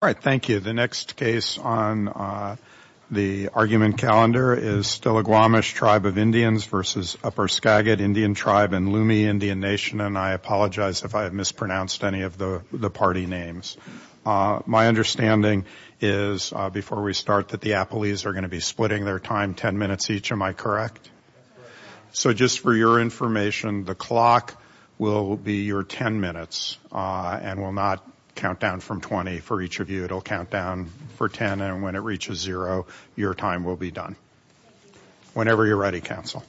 All right, thank you. The next case on the argument calendar is Stilaguamish Tribe of Indians v. Upper Skagit Indian Tribe in Lume, Indian Nation. And I apologize if I have mispronounced any of the party names. My understanding is, before we start, that the Applees are going to be splitting their time ten minutes each. Am I correct? So just for your information, the clock will be your ten minutes and will not count down from twenty for each of you. It'll count down for ten. And when it reaches zero, your time will be done. Whenever you're ready, counsel.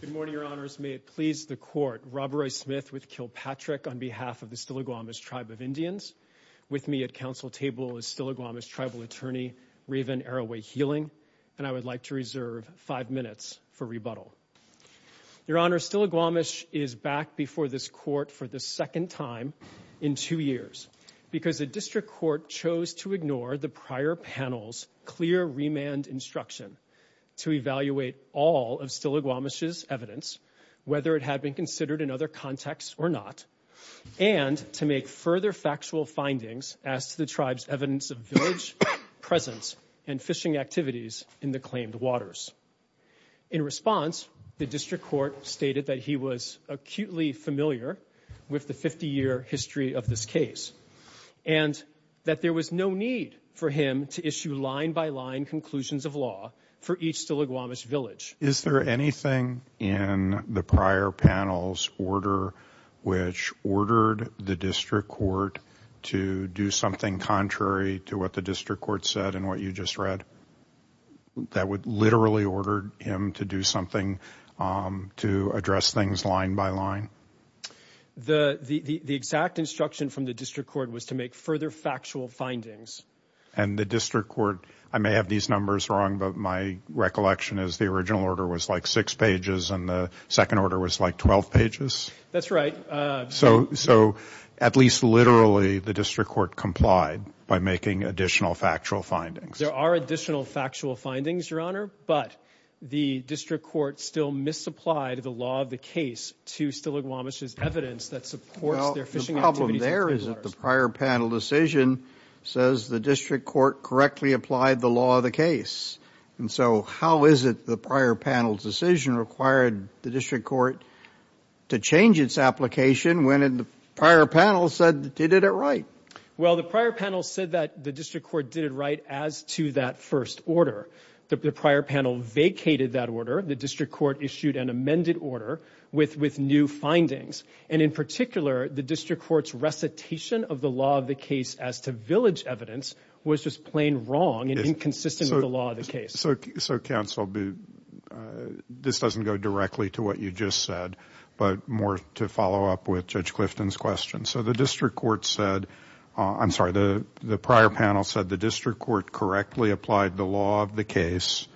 Good morning, Your Honors. May it please the Court. Robert Roy Smith with Kilpatrick on behalf of the Stilaguamish Tribe of Indians. With me at counsel table is Stilaguamish Tribal Attorney Raven Arroway-Healing. And I would like to reserve five minutes for rebuttal. Your Honor, Stilaguamish is back before this Court for the second time in two years because the District Court chose to ignore the prior panel's clear remand instruction to evaluate all of Stilaguamish's evidence, whether it had been considered in other contexts or not, and to make further factual findings as to the tribe's evidence of village presence and fishing activities in the claimed waters. In response, the District Court stated that he was acutely familiar with the 50-year history of this case and that there was no need for him to issue line-by-line conclusions of law for each Stilaguamish village. Is there anything in the prior panel's order which ordered the District Court to do something contrary to what the District Court said and what you just read that would literally order him to do something to address things line-by-line? The exact instruction from the District Court was to make further factual findings. And the District Court – I may have these numbers wrong, but my recollection is the original order was like six pages and the second order was like 12 pages? That's right. So at least literally the District Court complied by making additional factual findings? There are additional factual findings, Your Honor, but the District Court still misapplied the law of the case to Stilaguamish's evidence that supports their fishing activities. Well, the problem there is that the prior panel decision says the District Court correctly applied the law of the case. And so how is it the prior panel's decision required the District Court to change its application when the prior panel said it did it right? Well, the prior panel said that the District Court did it right as to that first order. The prior panel vacated that order. The District Court issued an amended order with new findings. And in particular, the District Court's recitation of the law of the case as to village evidence was just plain wrong and inconsistent with the law of the case. So, counsel, this doesn't go directly to what you just said, but more to follow up with Judge Clifton's question. So the District Court said, I'm sorry, the prior panel said the District Court correctly applied the law of the case.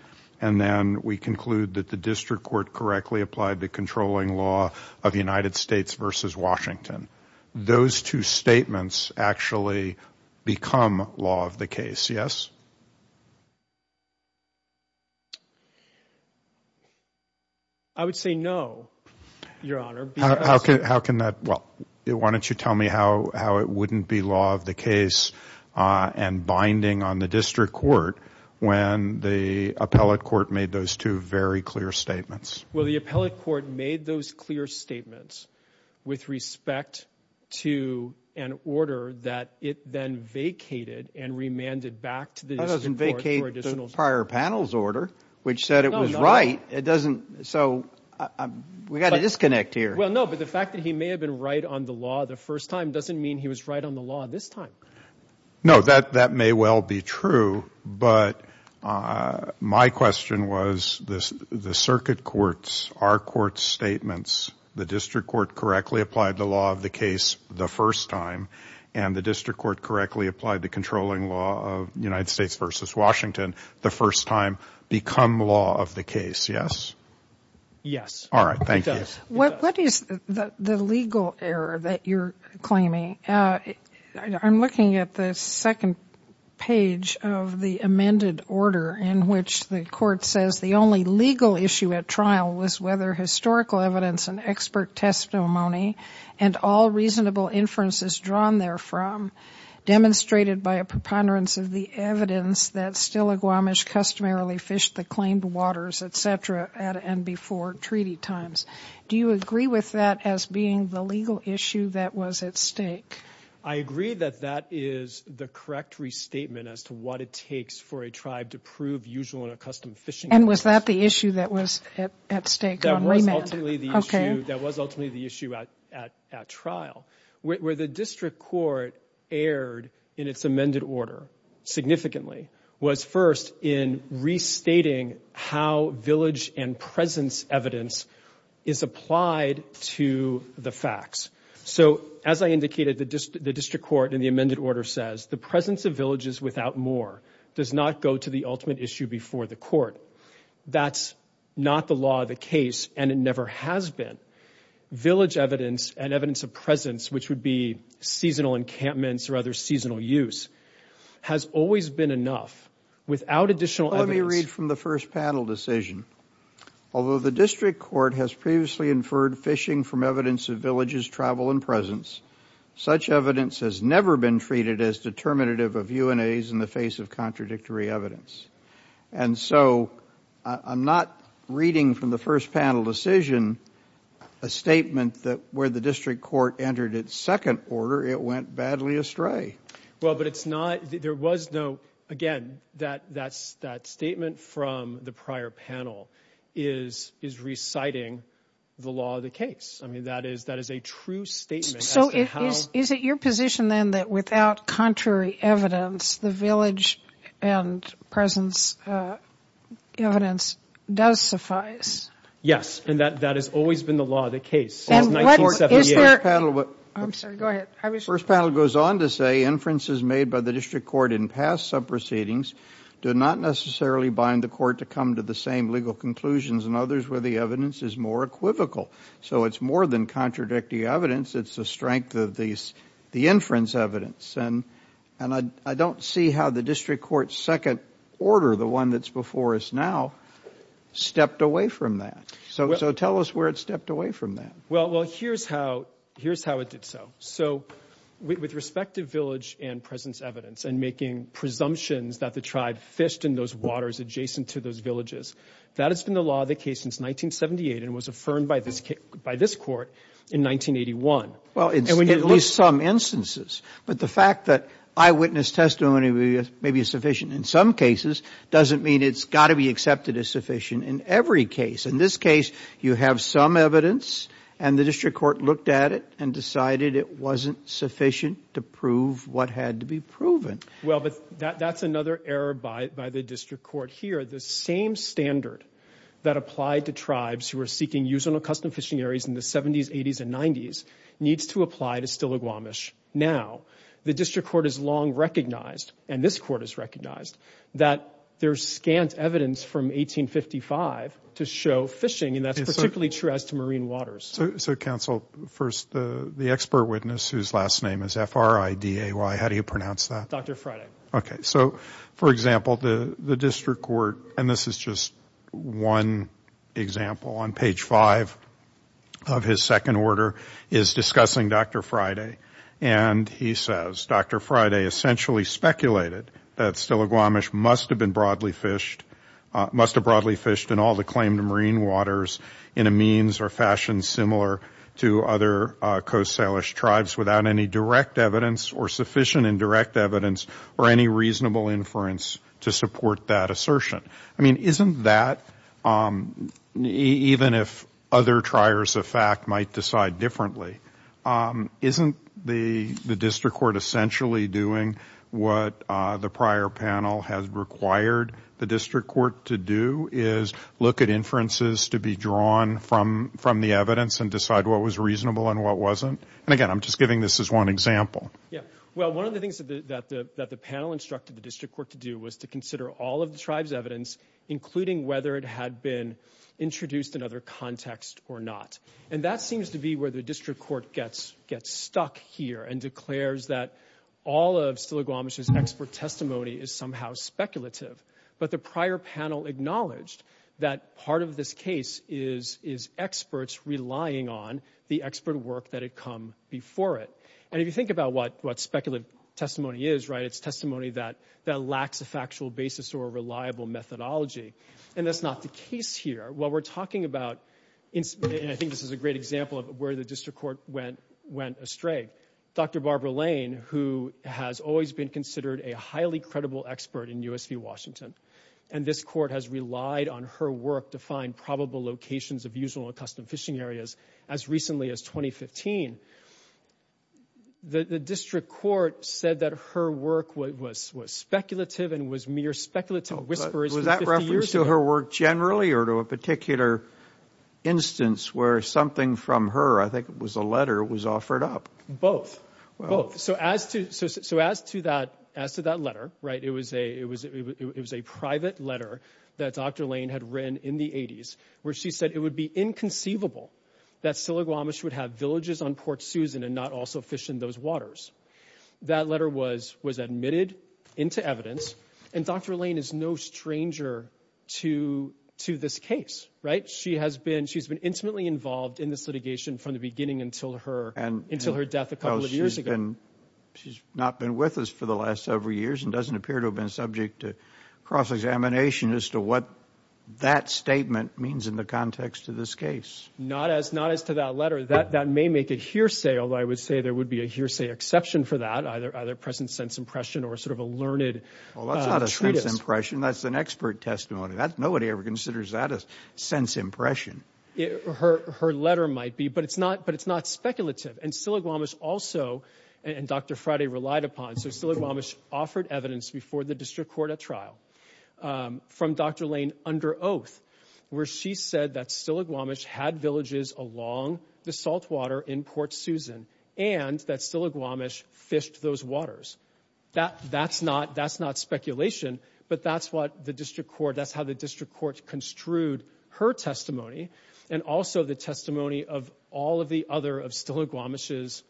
And then we conclude that the District Court correctly applied the controlling law of the United States versus Washington. Those two statements actually become law of the case, yes? I would say no, Your Honor. Why don't you tell me how it wouldn't be law of the case and binding on the District Court when the appellate court made those two very clear statements? Well, the appellate court made those clear statements with respect to an order that it then vacated and remanded back to the District Court. That doesn't vacate the prior panel's order, which said it was right. It doesn't. So we've got to disconnect here. Well, no, but the fact that he may have been right on the law the first time doesn't mean he was right on the law this time. No, that may well be true, but my question was the circuit courts, our court's statements, the District Court correctly applied the law of the case the first time, and the District Court correctly applied the controlling law of the United States versus Washington the first time to become law of the case, yes? Yes. All right. Thank you. It does. What is the legal error that you're claiming? I'm looking at the second page of the amended order in which the court says the only legal issue at trial was whether historical evidence and expert testimony and all reasonable inferences drawn therefrom, demonstrated by a preponderance of the evidence that still a Guamish customarily fished the claimed waters, et cetera, at and before treaty times. Do you agree with that as being the legal issue that was at stake? I agree that that is the correct restatement as to what it takes for a tribe to prove usual and accustomed fishing. And was that the issue that was at stake on remand? That was ultimately the issue at trial. Where the District Court erred in its amended order significantly was first in restating how village and presence evidence is applied to the facts. So as I indicated, the District Court in the amended order says the presence of villages without moor does not go to the ultimate issue before the court. That's not the law of the case, and it never has been. Village evidence and evidence of presence, which would be seasonal encampments or other seasonal use, has always been enough without additional evidence. Let me read from the first panel decision. Although the District Court has previously inferred fishing from evidence of villages' travel and presence, such evidence has never been treated as determinative of UNAs in the face of contradictory evidence. And so I'm not reading from the first panel decision a statement that where the District Court entered its second order, it went badly astray. Well, but it's not – there was no – again, that statement from the prior panel is reciting the law of the case. I mean, that is a true statement. So is it your position then that without contrary evidence, the village and presence evidence does suffice? Yes, and that has always been the law of the case since 1978. I'm sorry. Go ahead. The first panel goes on to say inferences made by the District Court in past subproceedings do not necessarily bind the court to come to the same legal conclusions in others where the evidence is more equivocal. So it's more than contradictory evidence. It's the strength of the inference evidence. And I don't see how the District Court's second order, the one that's before us now, stepped away from that. So tell us where it stepped away from that. Well, here's how it did so. So with respect to village and presence evidence and making presumptions that the tribe fished in those waters adjacent to those villages, that has been the law of the case since 1978 and was affirmed by this court in 1981. Well, in at least some instances. But the fact that eyewitness testimony may be sufficient in some cases doesn't mean it's got to be accepted as sufficient in every case. In this case, you have some evidence, and the District Court looked at it and decided it wasn't sufficient to prove what had to be proven. Well, but that's another error by the District Court here. The same standard that applied to tribes who were seeking use on accustomed fishing areas in the 70s, 80s, and 90s needs to apply to Stillaguamish now. The District Court has long recognized, and this court has recognized, that there's scant evidence from 1855 to show fishing, and that's particularly true as to marine waters. So, counsel, first, the expert witness whose last name is F-R-I-D-A-Y, how do you pronounce that? Dr. Friday. Okay. So, for example, the District Court, and this is just one example on page 5 of his second order, is discussing Dr. Friday, and he says, Dr. Friday essentially speculated that Stillaguamish must have been broadly fished, must have broadly fished in all the claimed marine waters in a means or fashion similar to other Coast Salish tribes without any direct evidence or sufficient indirect evidence or any reasonable inference to support that assertion. I mean, isn't that, even if other triers of fact might decide differently, isn't the District Court essentially doing what the prior panel has required the District Court to do, is look at inferences to be drawn from the evidence and decide what was reasonable and what wasn't? And again, I'm just giving this as one example. Yeah. Well, one of the things that the panel instructed the District Court to do was to consider all of the tribe's evidence, including whether it had been introduced in other context or not. And that seems to be where the District Court gets stuck here and declares that all of Stillaguamish's expert testimony is somehow speculative. But the prior panel acknowledged that part of this case is experts relying on the expert work that had come before it. And if you think about what speculative testimony is, right, it's testimony that lacks a factual basis or a reliable methodology. And that's not the case here. What we're talking about, and I think this is a great example of where the District Court went astray, Dr. Barbara Lane, who has always been considered a highly credible expert in U.S. v. Washington, and this Court has relied on her work to find probable locations of usual and custom fishing areas as recently as 2015. The District Court said that her work was speculative and was mere speculative whispers. Was that reference to her work generally or to a particular instance where something from her, I think it was a letter, was offered up? Both, both. So as to that letter, right, it was a private letter that Dr. Lane had written in the 80s where she said it would be inconceivable that Stillaguamish would have villages on Port Susan and not also fish in those waters. That letter was admitted into evidence, and Dr. Lane is no stranger to this case, right? She has been intimately involved in this litigation from the beginning until her death a couple of years ago. She's not been with us for the last several years and doesn't appear to have been subject to cross-examination as to what that statement means in the context of this case. Not as to that letter. That may make a hearsay, although I would say there would be a hearsay exception for that, either present sense impression or sort of a learned treatise. Well, that's not a sense impression. That's an expert testimony. Nobody ever considers that a sense impression. Her letter might be, but it's not speculative. And Stillaguamish also, and Dr. Friday relied upon, so Stillaguamish offered evidence before the district court at trial from Dr. Lane under oath where she said that Stillaguamish had villages along the saltwater in Port Susan and that Stillaguamish fished those waters. That's not speculation, but that's what the district court, that's how the district court construed her testimony and also the testimony of all of the other of Stillaguamish's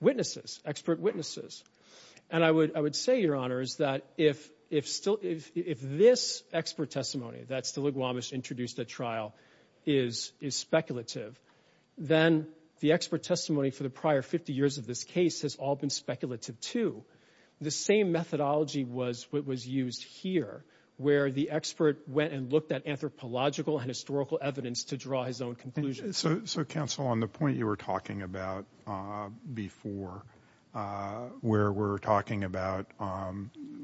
witnesses, expert witnesses. And I would say, Your Honor, is that if this expert testimony that Stillaguamish introduced at trial is speculative, then the expert testimony for the prior 50 years of this case has all been speculative, too. The same methodology was what was used here, where the expert went and looked at anthropological and historical evidence to draw his own conclusions. So, counsel, on the point you were talking about before, where we're talking about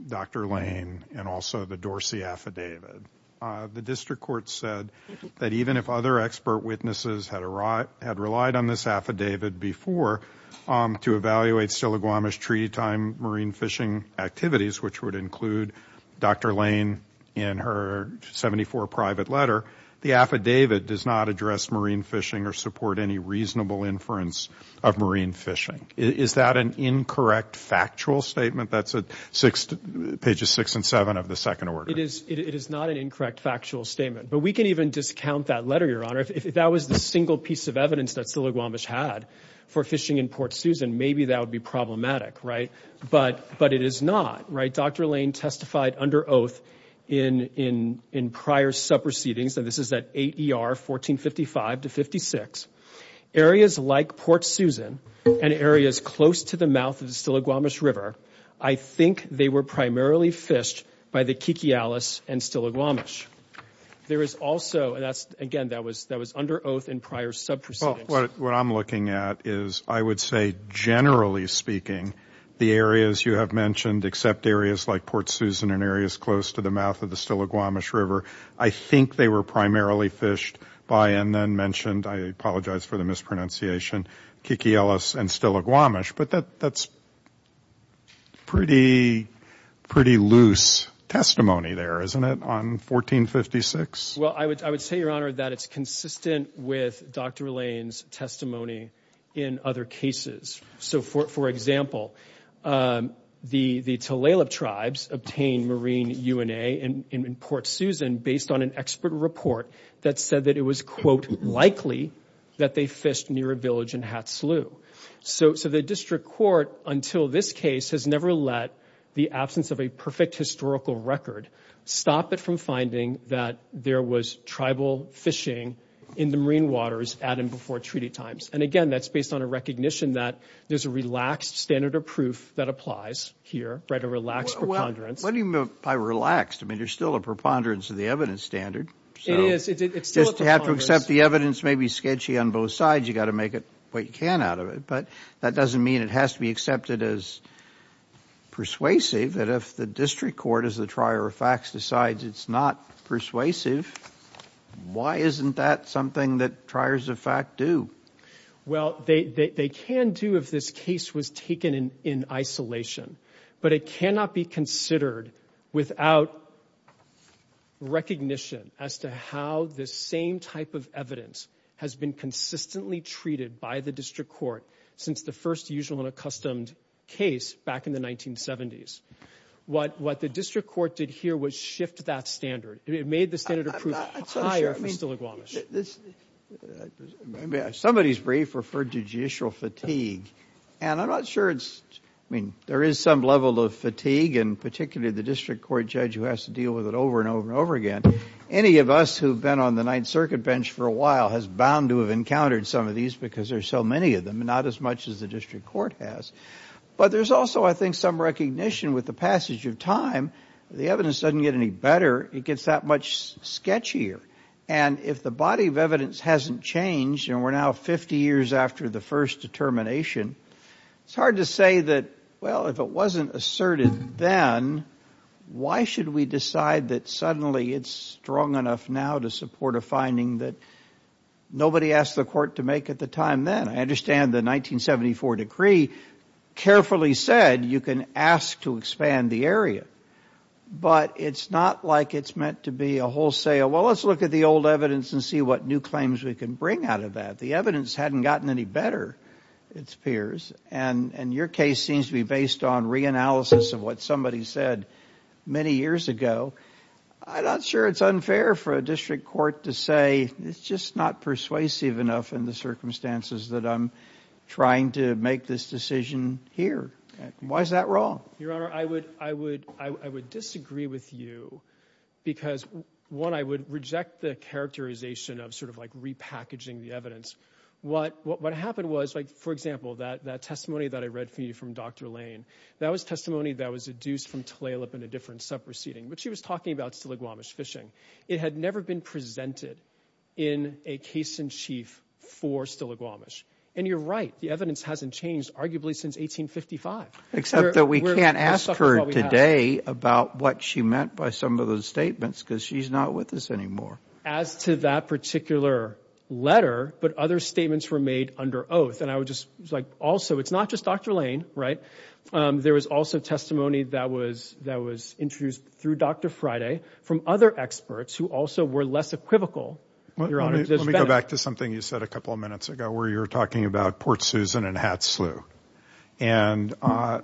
Dr. Lane and also the Dorsey affidavit, the district court said that even if other expert witnesses had relied on this affidavit before to evaluate Stillaguamish treaty time marine fishing activities, which would include Dr. Lane in her 74 private letter, the affidavit does not address marine fishing or support any reasonable inference of marine fishing. Is that an incorrect factual statement? That's pages 6 and 7 of the second order. It is not an incorrect factual statement. But we can even discount that letter, Your Honor. If that was the single piece of evidence that Stillaguamish had for fishing in Port Susan, maybe that would be problematic, right? But it is not, right? Dr. Lane testified under oath in prior sub-proceedings. And this is at 8 ER 1455 to 56. Areas like Port Susan and areas close to the mouth of the Stillaguamish River, I think they were primarily fished by the Kikialis and Stillaguamish. There is also, and that's, again, that was under oath in prior sub-proceedings. Well, what I'm looking at is I would say, generally speaking, the areas you have mentioned except areas like Port Susan and areas close to the mouth of the Stillaguamish River, I think they were primarily fished by and then mentioned, I apologize for the mispronunciation, Kikialis and Stillaguamish. But that's pretty loose testimony there, isn't it, on 1456? Well, I would say, Your Honor, that it's consistent with Dr. Lane's testimony in other cases. So, for example, the Tulalip tribes obtained marine UNA in Port Susan based on an expert report that said that it was, quote, likely that they fished near a village in Hatsaloo. So the district court, until this case, has never let the absence of a perfect historical record stop it from finding that there was tribal fishing in the marine waters at and before treaty times. And, again, that's based on a recognition that there's a relaxed standard of proof that applies here, right, a relaxed preponderance. Well, what do you mean by relaxed? I mean, there's still a preponderance of the evidence standard. It is. It's still a preponderance. Just to have to accept the evidence may be sketchy on both sides, you've got to make what you can out of it. But that doesn't mean it has to be accepted as persuasive, that if the district court, as the trier of facts, decides it's not persuasive, why isn't that something that triers of fact do? Well, they can do if this case was taken in isolation. But it cannot be considered without recognition as to how this same type of evidence has been consistently treated by the district court since the first usual and accustomed case back in the 1970s. What the district court did here was shift that standard. It made the standard of proof higher for Stiligwamish. Somebody's brief referred to judicial fatigue, and I'm not sure it's, I mean, there is some level of fatigue, and particularly the district court judge who has to deal with it over and over and over again. Any of us who have been on the Ninth Circuit bench for a while has bound to have encountered some of these because there are so many of them and not as much as the district court has. But there's also, I think, some recognition with the passage of time. The evidence doesn't get any better. It gets that much sketchier. And if the body of evidence hasn't changed, and we're now 50 years after the first determination, it's hard to say that, well, if it wasn't asserted then, why should we decide that suddenly it's strong enough now to support a finding that nobody asked the court to make at the time then? I understand the 1974 decree carefully said you can ask to expand the area, but it's not like it's meant to be a wholesale, well, let's look at the old evidence and see what new claims we can bring out of that. If the evidence hadn't gotten any better, it appears, and your case seems to be based on reanalysis of what somebody said many years ago, I'm not sure it's unfair for a district court to say, it's just not persuasive enough in the circumstances that I'm trying to make this decision here. Why is that wrong? Your Honor, I would disagree with you because, one, I would reject the characterization of sort of like repackaging the evidence. What happened was, for example, that testimony that I read for you from Dr. Lane, that was testimony that was deduced from Tlalip in a different sub-proceeding, but she was talking about Stiligwamish fishing. It had never been presented in a case in chief for Stiligwamish, and you're right, the evidence hasn't changed arguably since 1855. Except that we can't ask her today about what she meant by some of those statements because she's not with us anymore. As to that particular letter, but other statements were made under oath, and I would just like also, it's not just Dr. Lane, right? There was also testimony that was introduced through Dr. Friday from other experts who also were less equivocal, Your Honor. Let me go back to something you said a couple of minutes ago where you were talking about Port Susan and Hat Slew. And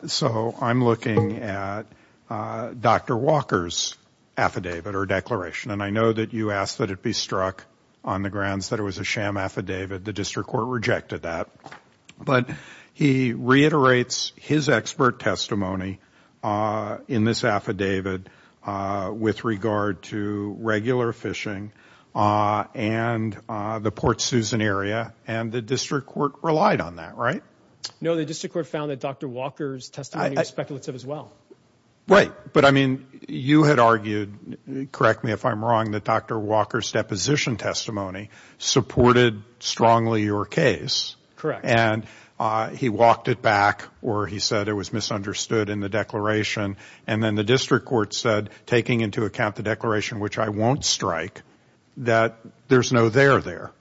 so I'm looking at Dr. Walker's affidavit or declaration, and I know that you asked that it be struck on the grounds that it was a sham affidavit. The district court rejected that. But he reiterates his expert testimony in this affidavit with regard to regular fishing and the Port Susan area, and the district court relied on that, right? No, the district court found that Dr. Walker's testimony was speculative as well. Right. But, I mean, you had argued, correct me if I'm wrong, that Dr. Walker's deposition testimony supported strongly your case. Correct. And he walked it back, or he said it was misunderstood in the declaration, and then the district court said, taking into account the declaration, which I won't strike, that there's no there there.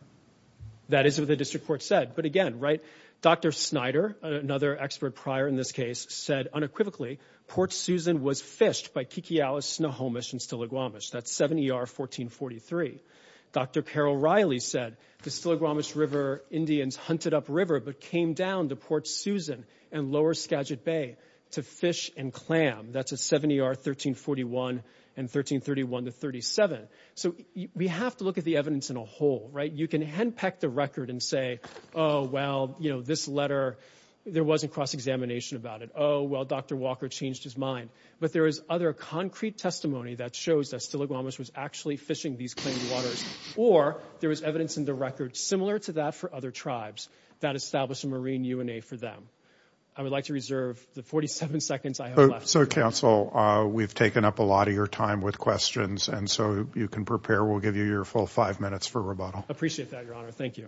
That is what the district court said. But, again, right, Dr. Snyder, another expert prior in this case, said unequivocally Port Susan was fished by Kikiyawas, Snohomish, and Stiligwamish. That's 7 ER 1443. Dr. Carol Riley said the Stiligwamish River Indians hunted up river but came down to Port Susan and lower Skagit Bay to fish and clam. That's at 7 ER 1341 and 1331 to 37. So we have to look at the evidence in a whole, right? You can henpeck the record and say, oh, well, you know, this letter, there wasn't cross-examination about it. Oh, well, Dr. Walker changed his mind. But there is other concrete testimony that shows that Stiligwamish was actually fishing these claimed waters. Or there was evidence in the record similar to that for other tribes that established a marine UNA for them. I would like to reserve the 47 seconds I have left. So, counsel, we've taken up a lot of your time with questions, and so you can prepare. We'll give you your full five minutes for rebuttal. Appreciate that, Your Honor. Thank you.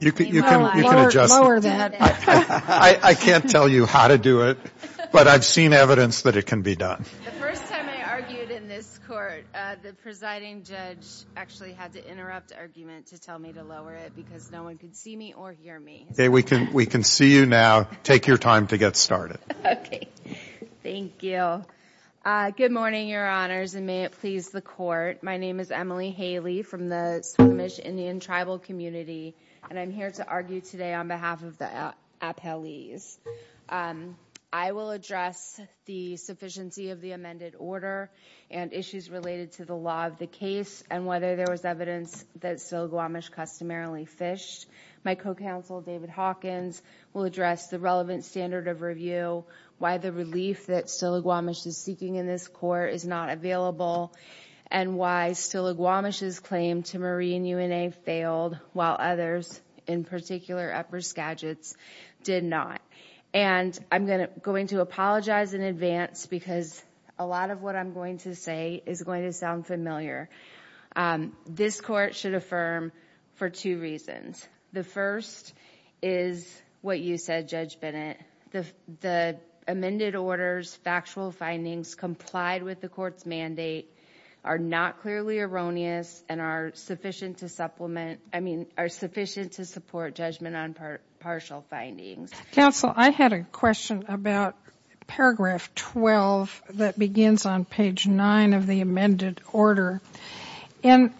You can adjust it. I can't tell you how to do it, but I've seen evidence that it can be done. The first time I argued in this court, the presiding judge actually had to interrupt argument to tell me to lower it because no one could see me or hear me. Okay, we can see you now. Take your time to get started. Okay. Thank you. Good morning, Your Honors, and may it please the Court. My name is Emily Haley from the Stiligwamish Indian Tribal Community, and I'm here to argue today on behalf of the appellees. I will address the sufficiency of the amended order and issues related to the law of the case and whether there was evidence that Stiligwamish customarily fished. My co-counsel, David Hawkins, will address the relevant standard of review, why the relief that Stiligwamish is seeking in this court is not available, and why Stiligwamish's claim to marine UNA failed, while others, in particular, Upper Skagit's, did not. And I'm going to apologize in advance because a lot of what I'm going to say is going to sound familiar. This court should affirm for two reasons. The first is what you said, Judge Bennett. The amended order's factual findings complied with the court's mandate, are not clearly erroneous, and are sufficient to supplement, I mean, are sufficient to support judgment on partial findings. Counsel, I had a question about paragraph 12 that begins on page 9 of the amended order. And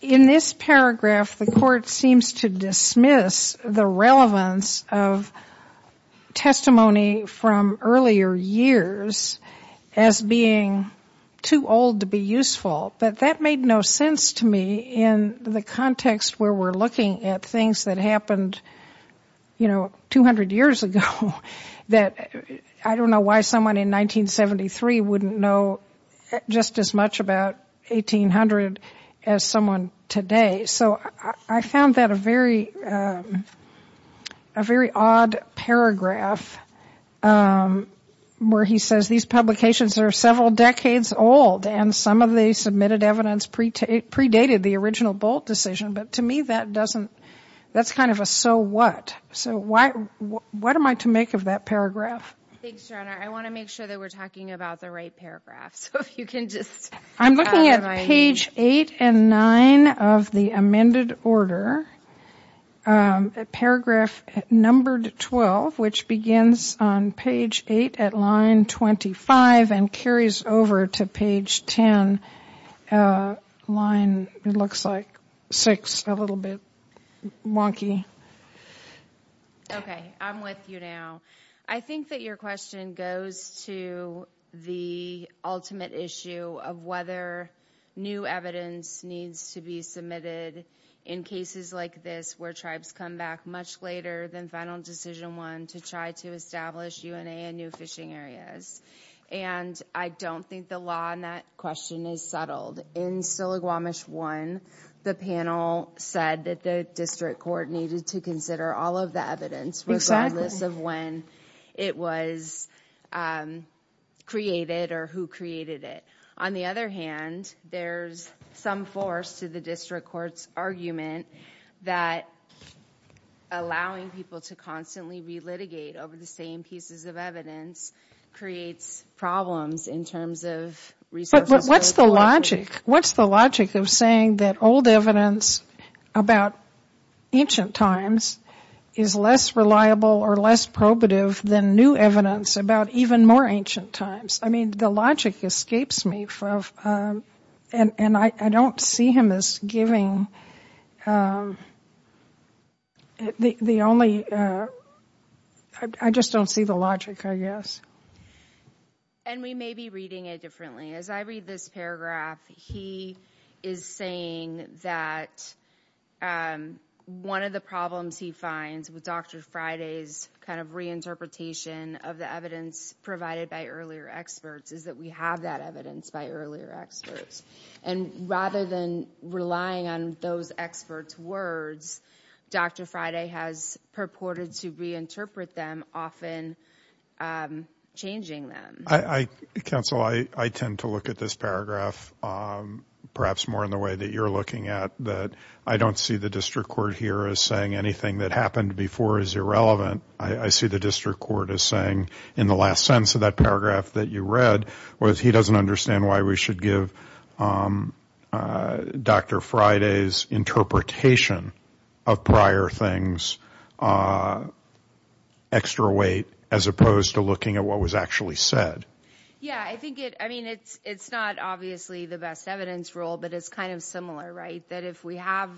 in this paragraph, the court seems to dismiss the relevance of testimony from earlier years as being too old to be useful. But that made no sense to me in the context where we're looking at things that happened, you know, 200 years ago that I don't know why someone in 1973 wouldn't know just as much about 1800 as someone today. So I found that a very odd paragraph where he says these publications are several decades old and some of the submitted evidence predated the original Bolt decision. But to me, that doesn't, that's kind of a so what. So what am I to make of that paragraph? Thanks, Your Honor. I want to make sure that we're talking about the right paragraph. So if you can just... I'm looking at page 8 and 9 of the amended order, paragraph numbered 12, which begins on page 8 at line 25 and carries over to page 10, line, it looks like, 6, a little bit wonky. Okay, I'm with you now. I think that your question goes to the ultimate issue of whether new evidence needs to be submitted in cases like this where tribes come back much later than final decision one to try to establish UNA in new fishing areas. And I don't think the law on that question is settled. In Sillagamish 1, the panel said that the district court needed to consider all of the evidence regardless of when it was created or who created it. On the other hand, there's some force to the district court's argument that allowing people to constantly relitigate over the same pieces of evidence creates problems in terms of resources... But what's the logic? What's the logic of saying that old evidence about ancient times is less reliable or less probative than new evidence about even more ancient times? I mean, the logic escapes me. And I don't see him as giving the only... I just don't see the logic, I guess. And we may be reading it differently. As I read this paragraph, he is saying that one of the problems he finds with Dr. Friday's kind of reinterpretation of the evidence provided by earlier experts is that we have that evidence by earlier experts. And rather than relying on those experts' words, Dr. Friday has purported to reinterpret them, often changing them. Counsel, I tend to look at this paragraph perhaps more in the way that you're looking at, that I don't see the district court here as saying anything that happened before is irrelevant. I see the district court as saying, in the last sentence of that paragraph that you read, was he doesn't understand why we should give Dr. Friday's interpretation of prior things extra weight as opposed to looking at what was actually said. Yeah, I mean, it's not obviously the best evidence rule, but it's kind of similar, right? That if we have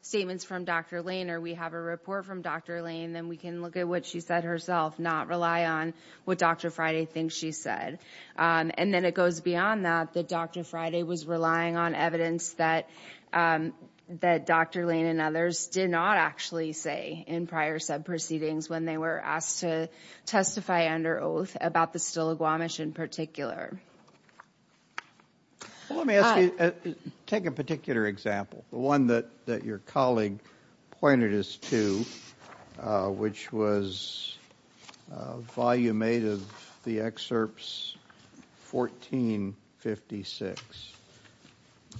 statements from Dr. Lane or we have a report from Dr. Lane, then we can look at what she said herself, not rely on what Dr. Friday thinks she said. And then it goes beyond that, that Dr. Friday was relying on evidence that Dr. Lane and others did not actually say in prior subproceedings when they were asked to testify under oath about the Stiligwamish in particular. Well, let me ask you, take a particular example, the one that your colleague pointed us to, which was a volume made of the excerpts 14, 56.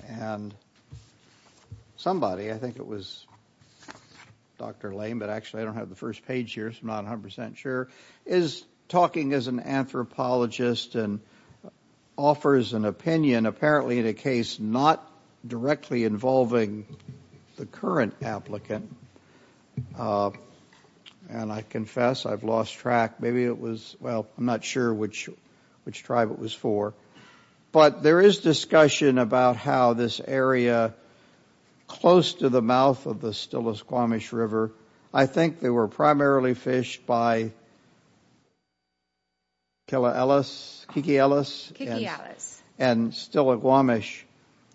And somebody, I think it was Dr. Lane, but actually I don't have the first page here, so I'm not 100% sure, is talking as an anthropologist and offers an opinion, apparently in a case not directly involving the current applicant. And I confess I've lost track. Maybe it was, well, I'm not sure which tribe it was for. But there is discussion about how this area close to the mouth of the Stiligwamish River, I think they were primarily fished by Kiki Ellis and Stiligwamish.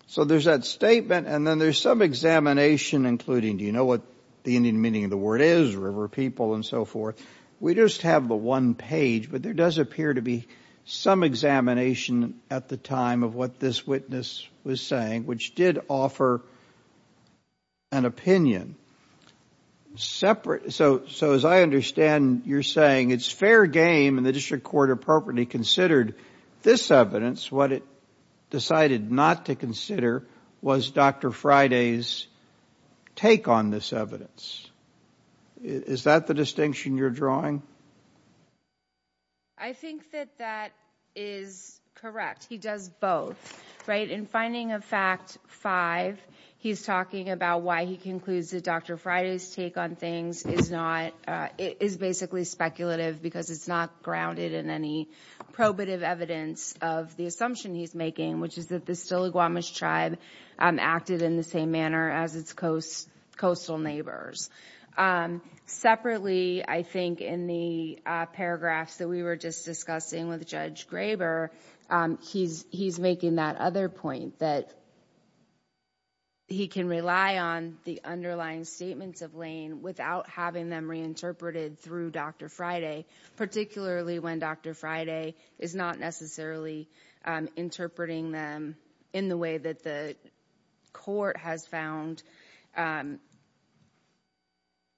So there's that statement, and then there's some examination including, do you know what the Indian meaning of the word is, river people and so forth? We just have the one page, but there does appear to be some examination at the time of what this witness was saying, which did offer an opinion. So as I understand, you're saying it's fair game, and the district court appropriately considered this evidence. What it decided not to consider was Dr. Friday's take on this evidence. Is that the distinction you're drawing? I think that that is correct. He does both, right? In finding of fact five, he's talking about why he concludes that Dr. Friday's take on things is not, is basically speculative because it's not grounded in any probative evidence of the assumption he's making, which is that the Stiligwamish tribe acted in the same manner as its coastal neighbors. Separately, I think in the paragraphs that we were just discussing with Judge Graber, he's making that other point that he can rely on the underlying statements of Lane without having them reinterpreted through Dr. Friday,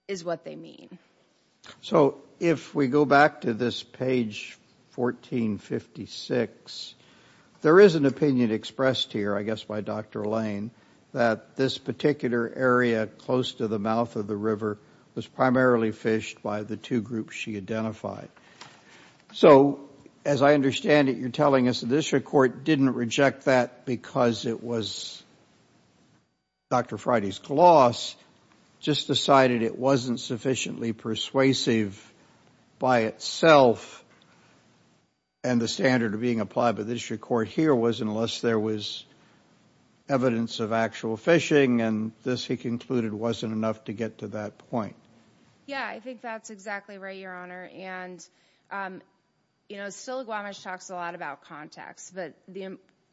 is what they mean. So if we go back to this page 1456, there is an opinion expressed here, I guess by Dr. Lane, that this particular area close to the mouth of the river was primarily fished by the two groups she identified. So as I understand it, you're telling us the district court didn't reject that because it was Dr. Friday's gloss, just decided it wasn't sufficiently persuasive by itself, and the standard of being applied by the district court here was unless there was evidence of actual fishing, and this he concluded wasn't enough to get to that point. Yeah, I think that's exactly right, Your Honor. And, you know, Stiligwamish talks a lot about context, but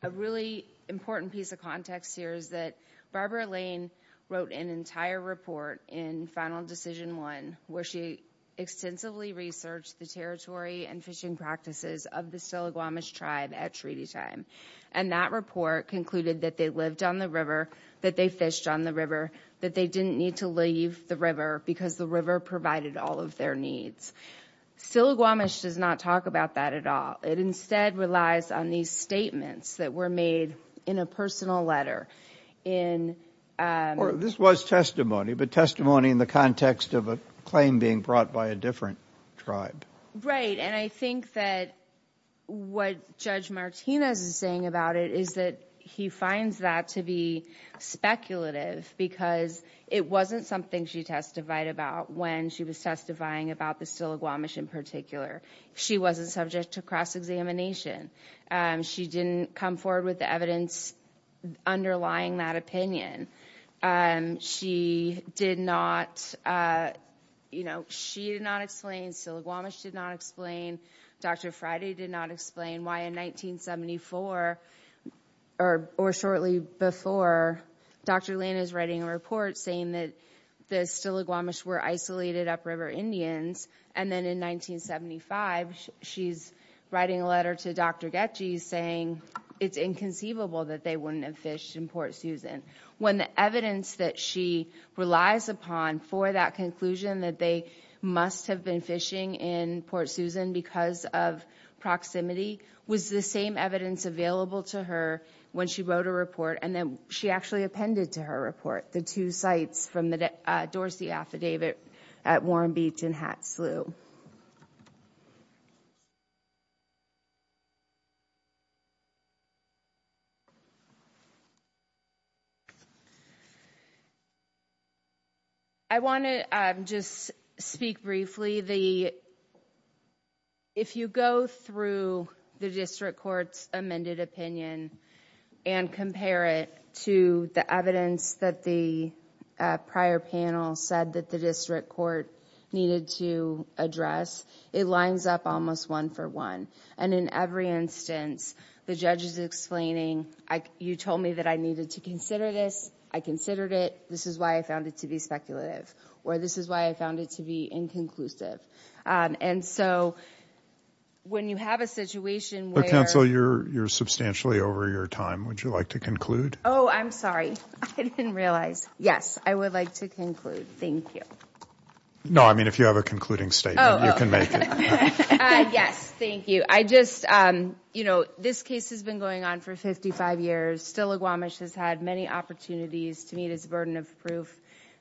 a really important piece of context here is that Barbara Lane wrote an entire report in Final Decision I, where she extensively researched the territory and fishing practices of the Stiligwamish tribe at treaty time, and that report concluded that they lived on the river, that they fished on the river, that they didn't need to leave the river because the river provided all of their needs. Stiligwamish does not talk about that at all. It instead relies on these statements that were made in a personal letter. This was testimony, but testimony in the context of a claim being brought by a different tribe. Right, and I think that what Judge Martinez is saying about it is that he finds that to be speculative because it wasn't something she testified about when she was testifying about the Stiligwamish in particular. She wasn't subject to cross-examination. She didn't come forward with the evidence underlying that opinion. She did not, you know, she did not explain, Stiligwamish did not explain, Dr. Friday did not explain why in 1974, or shortly before, Dr. Lane is writing a report saying that the Stiligwamish were isolated upriver Indians, and then in 1975, she's writing a letter to Dr. Getchie saying it's inconceivable that they wouldn't have fished in Port Susan when the evidence that she relies upon for that conclusion that they must have been fishing in Port Susan because of proximity was the same evidence available to her when she wrote a report, and then she actually appended to her report the two sites from the Dorsey Affidavit at Warren Beach and Hat Slough. Thank you. I want to just speak briefly. If you go through the district court's amended opinion and compare it to the evidence that the prior panel said that the district court needed to address, it lines up almost one for one, and in every instance, the judge is explaining, you told me that I needed to consider this. I considered it. This is why I found it to be speculative, or this is why I found it to be inconclusive, and so when you have a situation where you're substantially over your time, would you like to conclude? Oh, I'm sorry. I didn't realize. Yes, I would like to conclude. Thank you. No, I mean, if you have a concluding statement, you can make it. Yes, thank you. I just, you know, this case has been going on for 55 years. Stille Guamish has had many opportunities to meet its burden of proof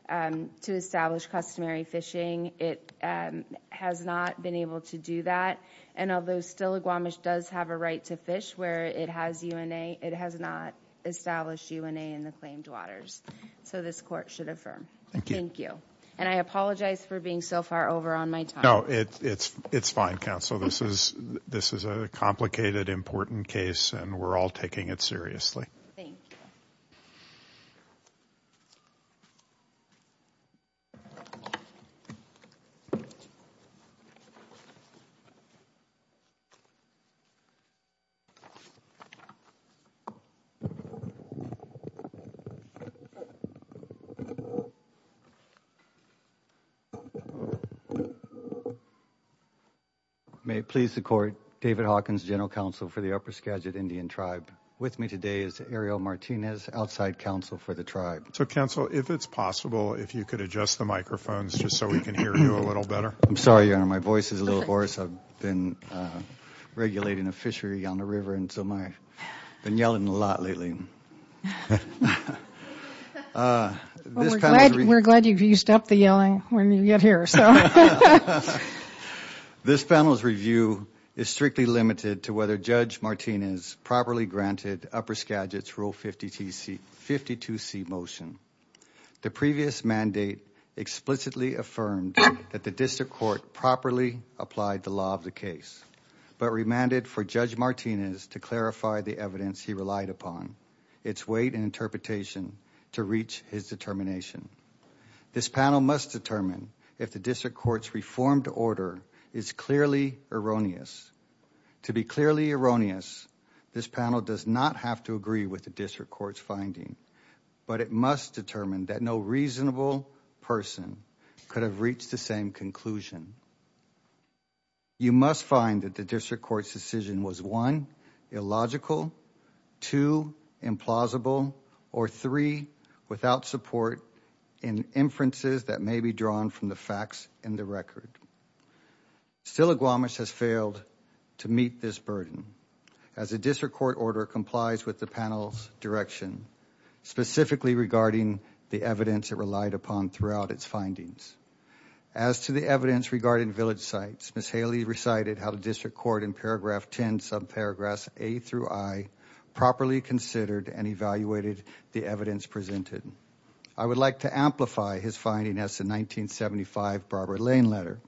to establish customary fishing. It has not been able to do that, and although Stille Guamish does have a right to fish where it has UNA, it has not established UNA in the claimed waters, so this court should affirm. Thank you. Thank you, and I apologize for being so far over on my time. No, it's fine, counsel. This is a complicated, important case, and we're all taking it seriously. Thank you. Thank you. May it please the court, David Hawkins, general counsel for the Upper Skagit Indian Tribe. With me today is Ariel Martinez, outside counsel for the tribe. So, counsel, if it's possible, if you could adjust the microphones just so we can hear you a little better. I'm sorry, Your Honor. My voice is a little hoarse. I've been regulating a fishery on the river, and so I've been yelling a lot lately. We're glad you stopped the yelling when you got here. This panel's review is strictly limited to whether Judge Martinez properly granted Upper Skagit's Rule 52C motion. The previous mandate explicitly affirmed that the district court properly applied the law of the case, but remanded for Judge Martinez to clarify the evidence he relied upon, its weight and interpretation, to reach his determination. This panel must determine if the district court's reformed order is clearly erroneous. To be clearly erroneous, this panel does not have to agree with the district court's finding, but it must determine that no reasonable person could have reached the same conclusion. You must find that the district court's decision was, one, illogical, two, implausible, or three, without support in inferences that may be drawn from the facts in the record. Still, Iguamish has failed to meet this burden, as the district court order complies with the panel's direction, specifically regarding the evidence it relied upon throughout its findings. As to the evidence regarding village sites, Ms. Haley recited how the district court in paragraph 10, subparagraphs A through I, properly considered and evaluated the evidence presented. I would like to amplify his finding as the 1975 Barbara Lane letter.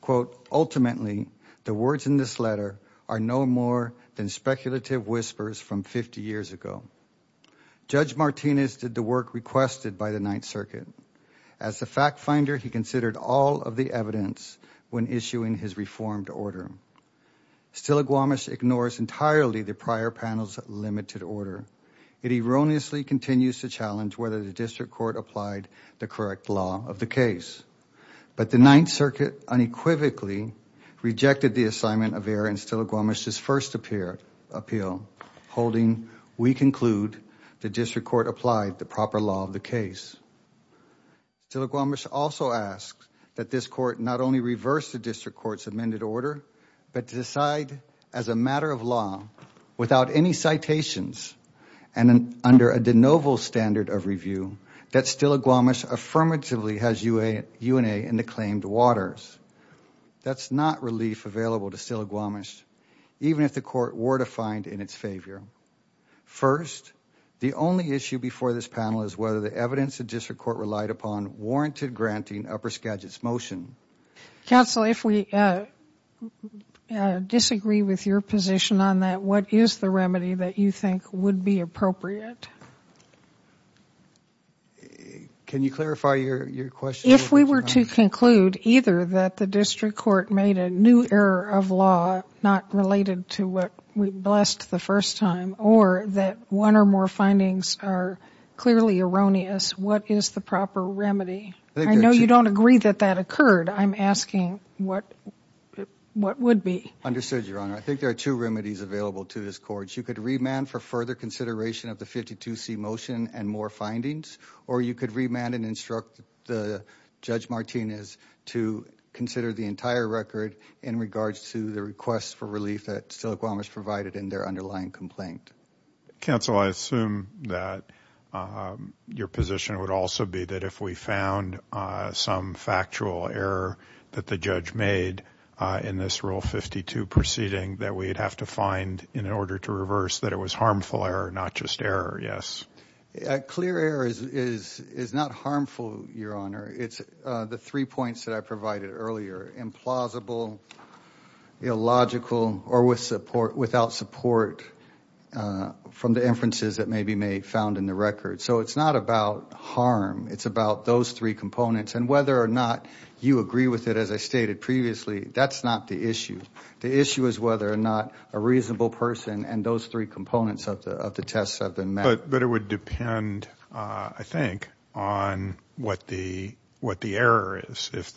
Quote, ultimately, the words in this letter are no more than speculative whispers from 50 years ago. Judge Martinez did the work requested by the Ninth Circuit. As a fact finder, he considered all of the evidence when issuing his reformed order. Still, Iguamish ignores entirely the prior panel's limited order. It erroneously continues to challenge whether the district court applied the correct law of the case. But the Ninth Circuit unequivocally rejected the assignment of error in Still, Iguamish's first appeal, holding, we conclude, the district court applied the proper law of the case. Still, Iguamish also asks that this court not only reverse the district court's amended order, but to decide as a matter of law, without any citations, and under a de novo standard of review, that Still, Iguamish affirmatively has UNA in the claimed waters. That's not relief available to Still, Iguamish, even if the court were to find in its favor. First, the only issue before this panel is whether the evidence the district court relied upon warranted granting Upper Skagit's motion. Counsel, if we disagree with your position on that, what is the remedy that you think would be appropriate? Can you clarify your question? If we were to conclude either that the district court made a new error of law, not related to what we blessed the first time, or that one or more findings are clearly erroneous, what is the proper remedy? I know you don't agree that that occurred. I'm asking what would be. Understood, Your Honor. I think there are two remedies available to this court. You could remand for further consideration of the 52C motion and more findings, or you could remand and instruct Judge Martinez to consider the entire record in regards to the request for relief that Still, Iguamish provided in their underlying complaint. Counsel, I assume that your position would also be that if we found some factual error that the judge made in this Rule 52 proceeding that we'd have to find in order to reverse that it was harmful error, not just error, yes? Clear error is not harmful, Your Honor. It's the three points that I provided earlier. Implausible, illogical, or without support from the inferences that may be found in the record. So it's not about harm. It's about those three components, and whether or not you agree with it, as I stated previously, that's not the issue. The issue is whether or not a reasonable person and those three components of the tests have been met. But it would depend, I think, on what the error is. If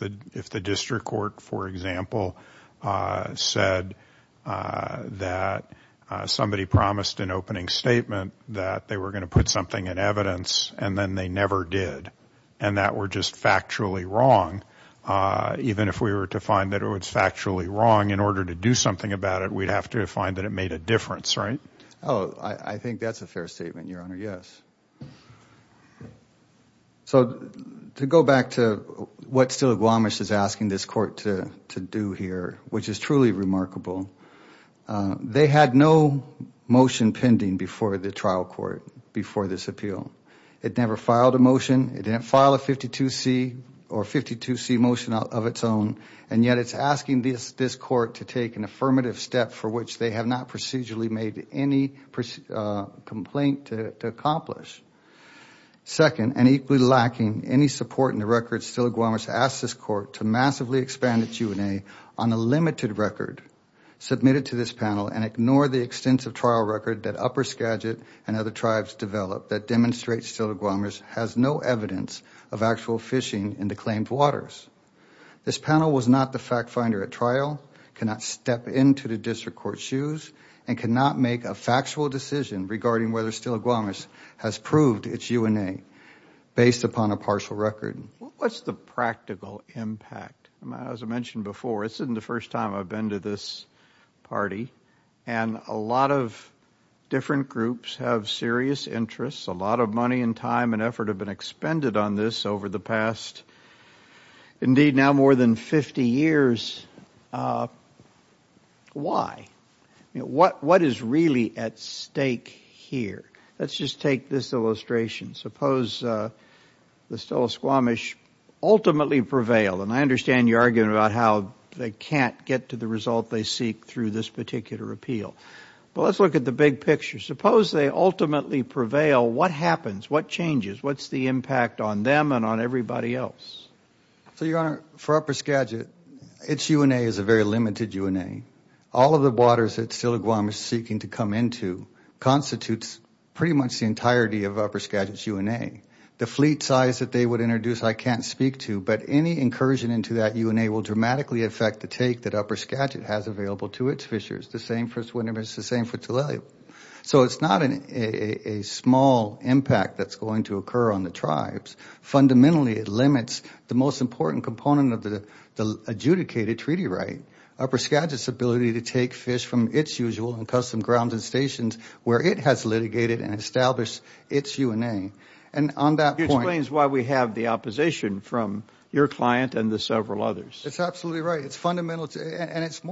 the district court, for example, said that somebody promised an opening statement that they were going to put something in evidence, and then they never did, and that were just factually wrong, even if we were to find that it was factually wrong, in order to do something about it, we'd have to find that it made a difference, right? Oh, I think that's a fair statement, Your Honor, yes. So to go back to what Steele-Gwamish is asking this court to do here, which is truly remarkable, they had no motion pending before the trial court before this appeal. It never filed a motion. It didn't file a 52C or 52C motion of its own, and yet it's asking this court to take an affirmative step for which they have not procedurally made any complaint to accomplish. Second, and equally lacking any support in the record, Steele-Gwamish asked this court to massively expand its Q&A on a limited record submitted to this panel and ignore the extensive trial record that Upper Skagit and other tribes developed that demonstrates Steele-Gwamish has no evidence of actual fishing in the claimed waters. This panel was not the fact finder at trial, cannot step into the district court's shoes, and cannot make a factual decision regarding whether Steele-Gwamish has proved its Q&A based upon a partial record. What's the practical impact? As I mentioned before, this isn't the first time I've been to this party, and a lot of different groups have serious interests. A lot of money and time and effort have been expended on this over the past, indeed, now more than 50 years. Why? What is really at stake here? Let's just take this illustration. Suppose the Steele-Gwamish ultimately prevail, and I understand your argument about how they can't get to the result they seek through this particular appeal. But let's look at the big picture. Suppose they ultimately prevail. What happens? What changes? What's the impact on them and on everybody else? Your Honor, for Upper Skagit, its UNA is a very limited UNA. All of the waters that Steele-Gwamish is seeking to come into constitutes pretty much the entirety of Upper Skagit's UNA. The fleet size that they would introduce I can't speak to, but any incursion into that UNA will dramatically affect the take that Upper Skagit has available to its fishers. It's the same for Swinomish. It's the same for Tulalip. So it's not a small impact that's going to occur on the tribes. Fundamentally, it limits the most important component of the adjudicated treaty right, Upper Skagit's ability to take fish from its usual and custom grounds and stations where it has litigated and established its UNA. And on that point— He explains why we have the opposition from your client and the several others. That's absolutely right. And it's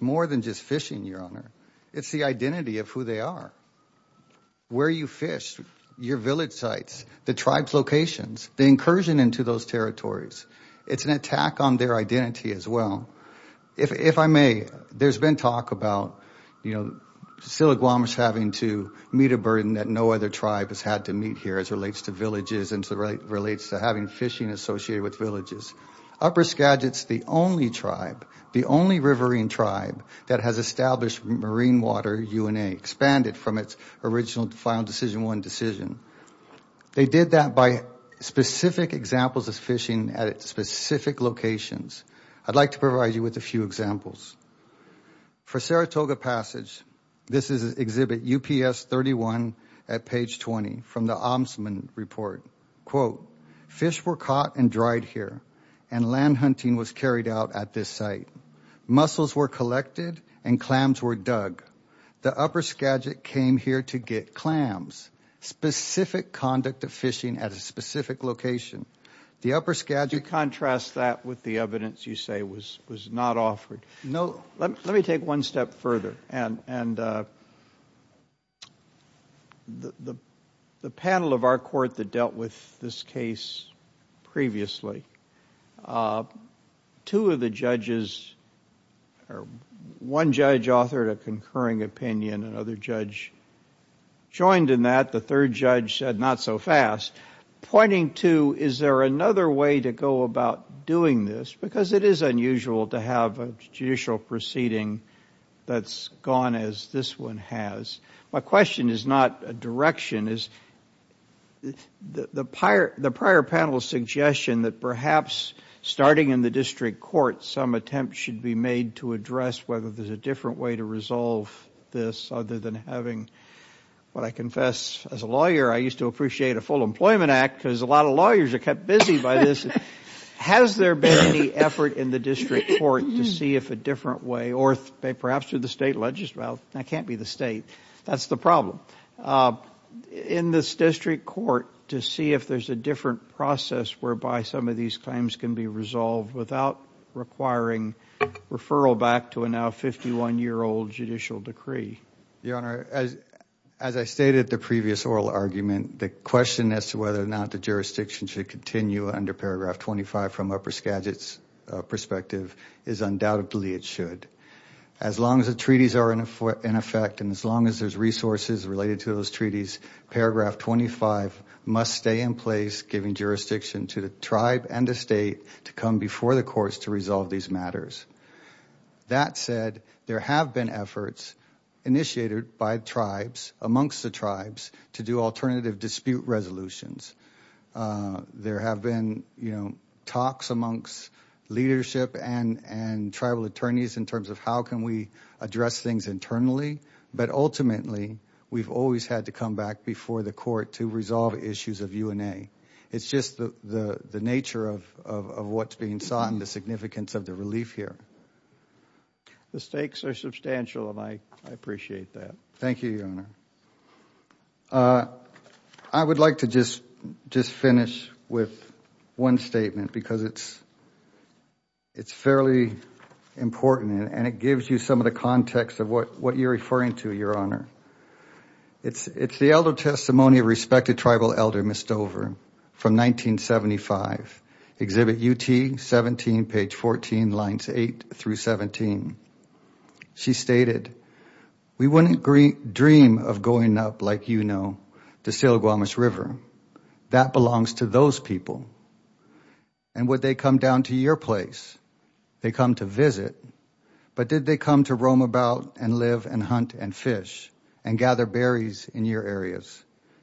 more than just fishing, Your Honor. It's the identity of who they are, where you fish, your village sites, the tribes' locations, the incursion into those territories. It's an attack on their identity as well. If I may, there's been talk about, you know, Steele-Gwamish having to meet a burden that no other tribe has had to meet here as it relates to villages and as it relates to having fishing associated with villages. Upper Skagit's the only tribe, the only riverine tribe, that has established marine water UNA, expanded from its original Final Decision I decision. They did that by specific examples of fishing at specific locations. I'd like to provide you with a few examples. For Saratoga Passage, this is Exhibit UPS 31 at page 20 from the Omsman Report. Quote, fish were caught and dried here and land hunting was carried out at this site. Mussels were collected and clams were dug. The Upper Skagit came here to get clams. Specific conduct of fishing at a specific location. The Upper Skagit- Do you contrast that with the evidence you say was not offered? No. Let me take one step further. And the panel of our court that dealt with this case previously, two of the judges or one judge authored a concurring opinion, another judge joined in that, the third judge said not so fast, pointing to is there another way to go about doing this because it is unusual to have a judicial proceeding that's gone as this one has. My question is not a direction, it's the prior panel's suggestion that perhaps starting in the district court, some attempts should be made to address whether there's a different way to resolve this other than having what I confess as a lawyer, I used to appreciate a full employment act because a lot of lawyers are kept busy by this. Has there been any effort in the district court to see if a different way, or perhaps through the state legislature, that can't be the state, that's the problem, in this district court to see if there's a different process whereby some of these claims can be resolved without requiring referral back to a now 51-year-old judicial decree? Your Honor, as I stated at the previous oral argument, the question as to whether or not the jurisdiction should continue under Paragraph 25 from Upper Skagit's perspective is undoubtedly it should. As long as the treaties are in effect and as long as there's resources related to those treaties, Paragraph 25 must stay in place giving jurisdiction to the tribe and the state to come before the courts to resolve these matters. That said, there have been efforts initiated by tribes, amongst the tribes, to do alternative dispute resolutions. There have been, you know, talks amongst leadership and tribal attorneys in terms of how can we address things internally, but ultimately we've always had to come back before the court to resolve issues of UNA. It's just the nature of what's being sought and the significance of the relief here. The stakes are substantial and I appreciate that. Thank you, Your Honor. I would like to just finish with one statement because it's fairly important and it gives you some of the context of what you're referring to, Your Honor. It's the Elder Testimony of Respected Tribal Elder Ms. Dover from 1975, Exhibit UT 17, page 14, lines 8 through 17. She stated, We wouldn't dream of going up, like you know, to Sailor Guamish River. That belongs to those people. And would they come down to your place? They come to visit. But did they come to roam about and live and hunt and fish and gather berries in your areas?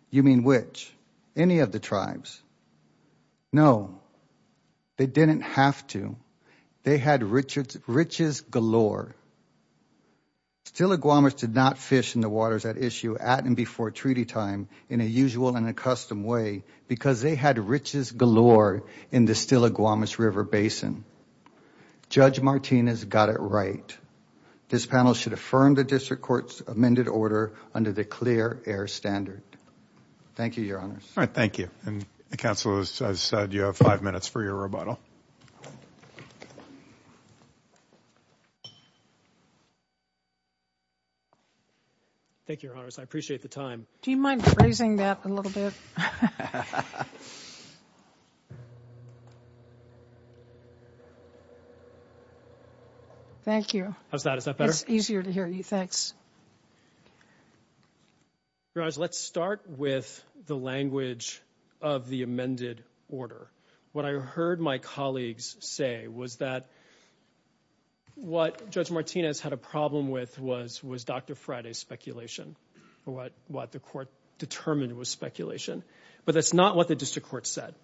You mean which? Any of the tribes? No. They didn't have to. They had riches galore. Stiller Guamish did not fish in the waters at issue at and before treaty time in a usual and a custom way because they had riches galore in the Stiller Guamish River Basin. Judge Martinez got it right. This panel should affirm the district court's amended order under the clear air standard. Thank you, Your Honors. All right. Thank you. And the counsel has said you have five minutes for your rebuttal. Thank you, Your Honors. I appreciate the time. Do you mind phrasing that a little bit? Thank you. How's that? Is that better? It's easier to hear you. Thanks. Your Honors, let's start with the language of the amended order. What I heard my colleagues say was that what Judge Martinez had a problem with was Dr. Friday's speculation or what the court determined was speculation, but that's not what the district court said.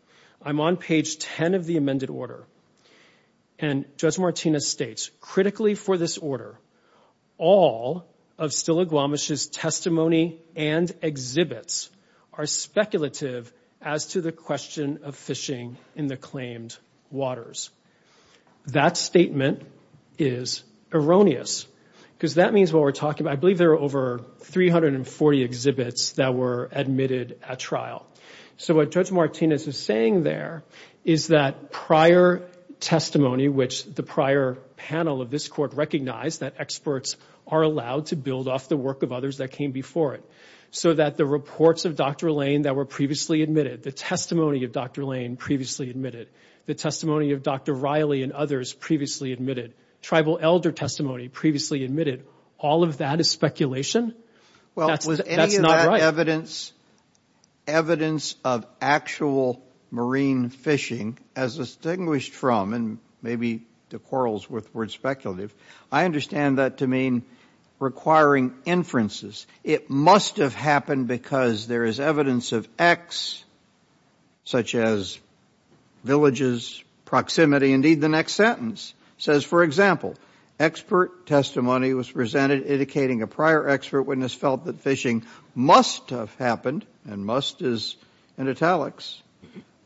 I'm on page 10 of the amended order, and Judge Martinez states, Critically for this order, all of Stiller Guamish's testimony and exhibits are speculative as to the question of fishing in the claimed waters. That statement is erroneous because that means what we're talking about. I believe there are over 340 exhibits that were admitted at trial. So what Judge Martinez is saying there is that prior testimony, which the prior panel of this court recognized that experts are allowed to build off the work of others that came before it, so that the reports of Dr. Lane that were previously admitted, the testimony of Dr. Lane previously admitted, the testimony of Dr. Riley and others previously admitted, tribal elder testimony previously admitted, all of that is speculation? That's not right. Well, was any of that evidence of actual marine fishing as distinguished from, and maybe the quarrels with the word speculative, I understand that to mean requiring inferences. It must have happened because there is evidence of X, such as villages, proximity, indeed the next sentence. It says, for example, expert testimony was presented indicating a prior expert witness felt that fishing must have happened, and must is in italics,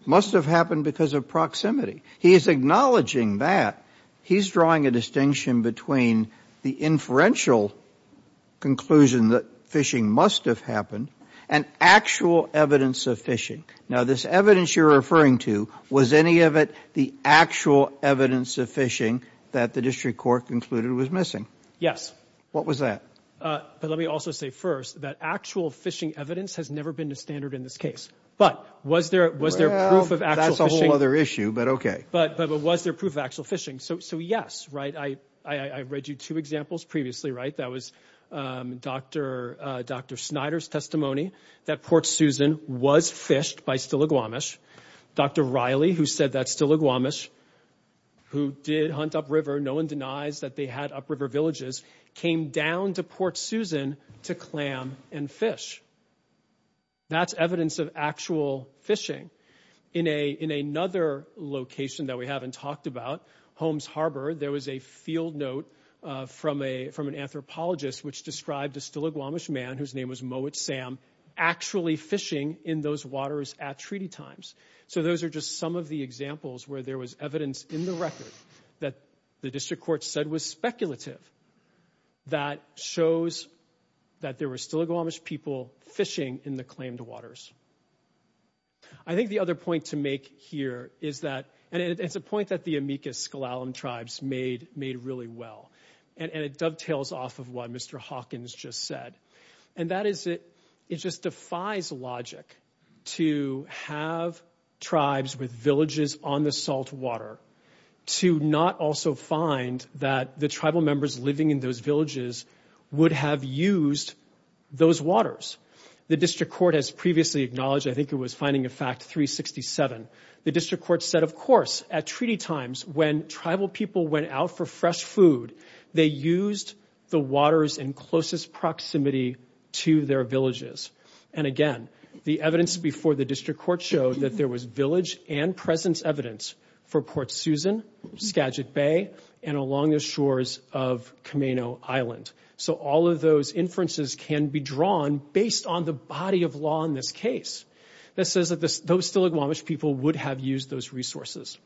must have happened because of proximity. He is acknowledging that. He's drawing a distinction between the inferential conclusion that fishing must have happened and actual evidence of fishing. Now, this evidence you're referring to, was any of it the actual evidence of fishing that the district court concluded was missing? Yes. What was that? But let me also say first that actual fishing evidence has never been the standard in this case. But was there proof of actual fishing? Well, that's a whole other issue, but okay. But was there proof of actual fishing? So, yes, right? I read you two examples previously, right? That was Dr. Snyder's testimony that Port Susan was fished by Stilaguamish. Dr. Riley, who said that Stilaguamish, who did hunt upriver, no one denies that they had upriver villages, came down to Port Susan to clam and fish. That's evidence of actual fishing. In another location that we haven't talked about, Holmes Harbor, there was a field note from an anthropologist which described a Stilaguamish man, whose name was Mowat Sam, actually fishing in those waters at treaty times. So those are just some of the examples where there was evidence in the record that the district court said was speculative that shows that there were Stilaguamish people fishing in the claimed waters. I think the other point to make here is that, and it's a point that the Amicus-Skalaam tribes made really well, and it dovetails off of what Mr. Hawkins just said, and that is it just defies logic to have tribes with villages on the salt water to not also find that the tribal members living in those villages would have used those waters. The district court has previously acknowledged, I think it was Finding a Fact 367, the district court said, of course, at treaty times, when tribal people went out for fresh food, they used the waters in closest proximity to their villages. And again, the evidence before the district court showed that there was village and presence evidence for Port Susan, Skagit Bay, and along the shores of Kamaino Island. So all of those inferences can be drawn based on the body of law in this case that says that those Stilaguamish people would have used those resources.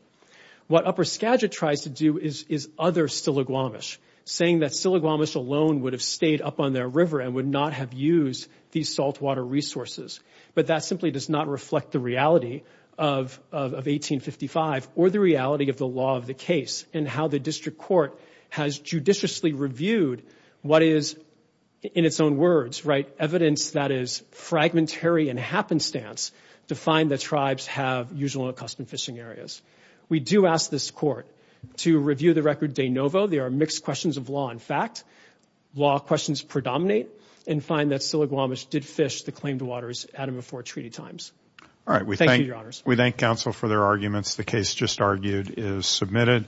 What Upper Skagit tries to do is other Stilaguamish, saying that Stilaguamish alone would have stayed up on their river and would not have used these salt water resources. But that simply does not reflect the reality of 1855 or the reality of the law of the case and how the district court has judiciously reviewed what is, in its own words, right, evidence that is fragmentary and happenstance to find that tribes have usual and accustomed fishing areas. We do ask this court to review the record de novo. There are mixed questions of law and fact. Law questions predominate and find that Stilaguamish did fish the claimed waters at and before treaty times. Thank you, Your Honors. We thank counsel for their arguments. The case just argued is submitted.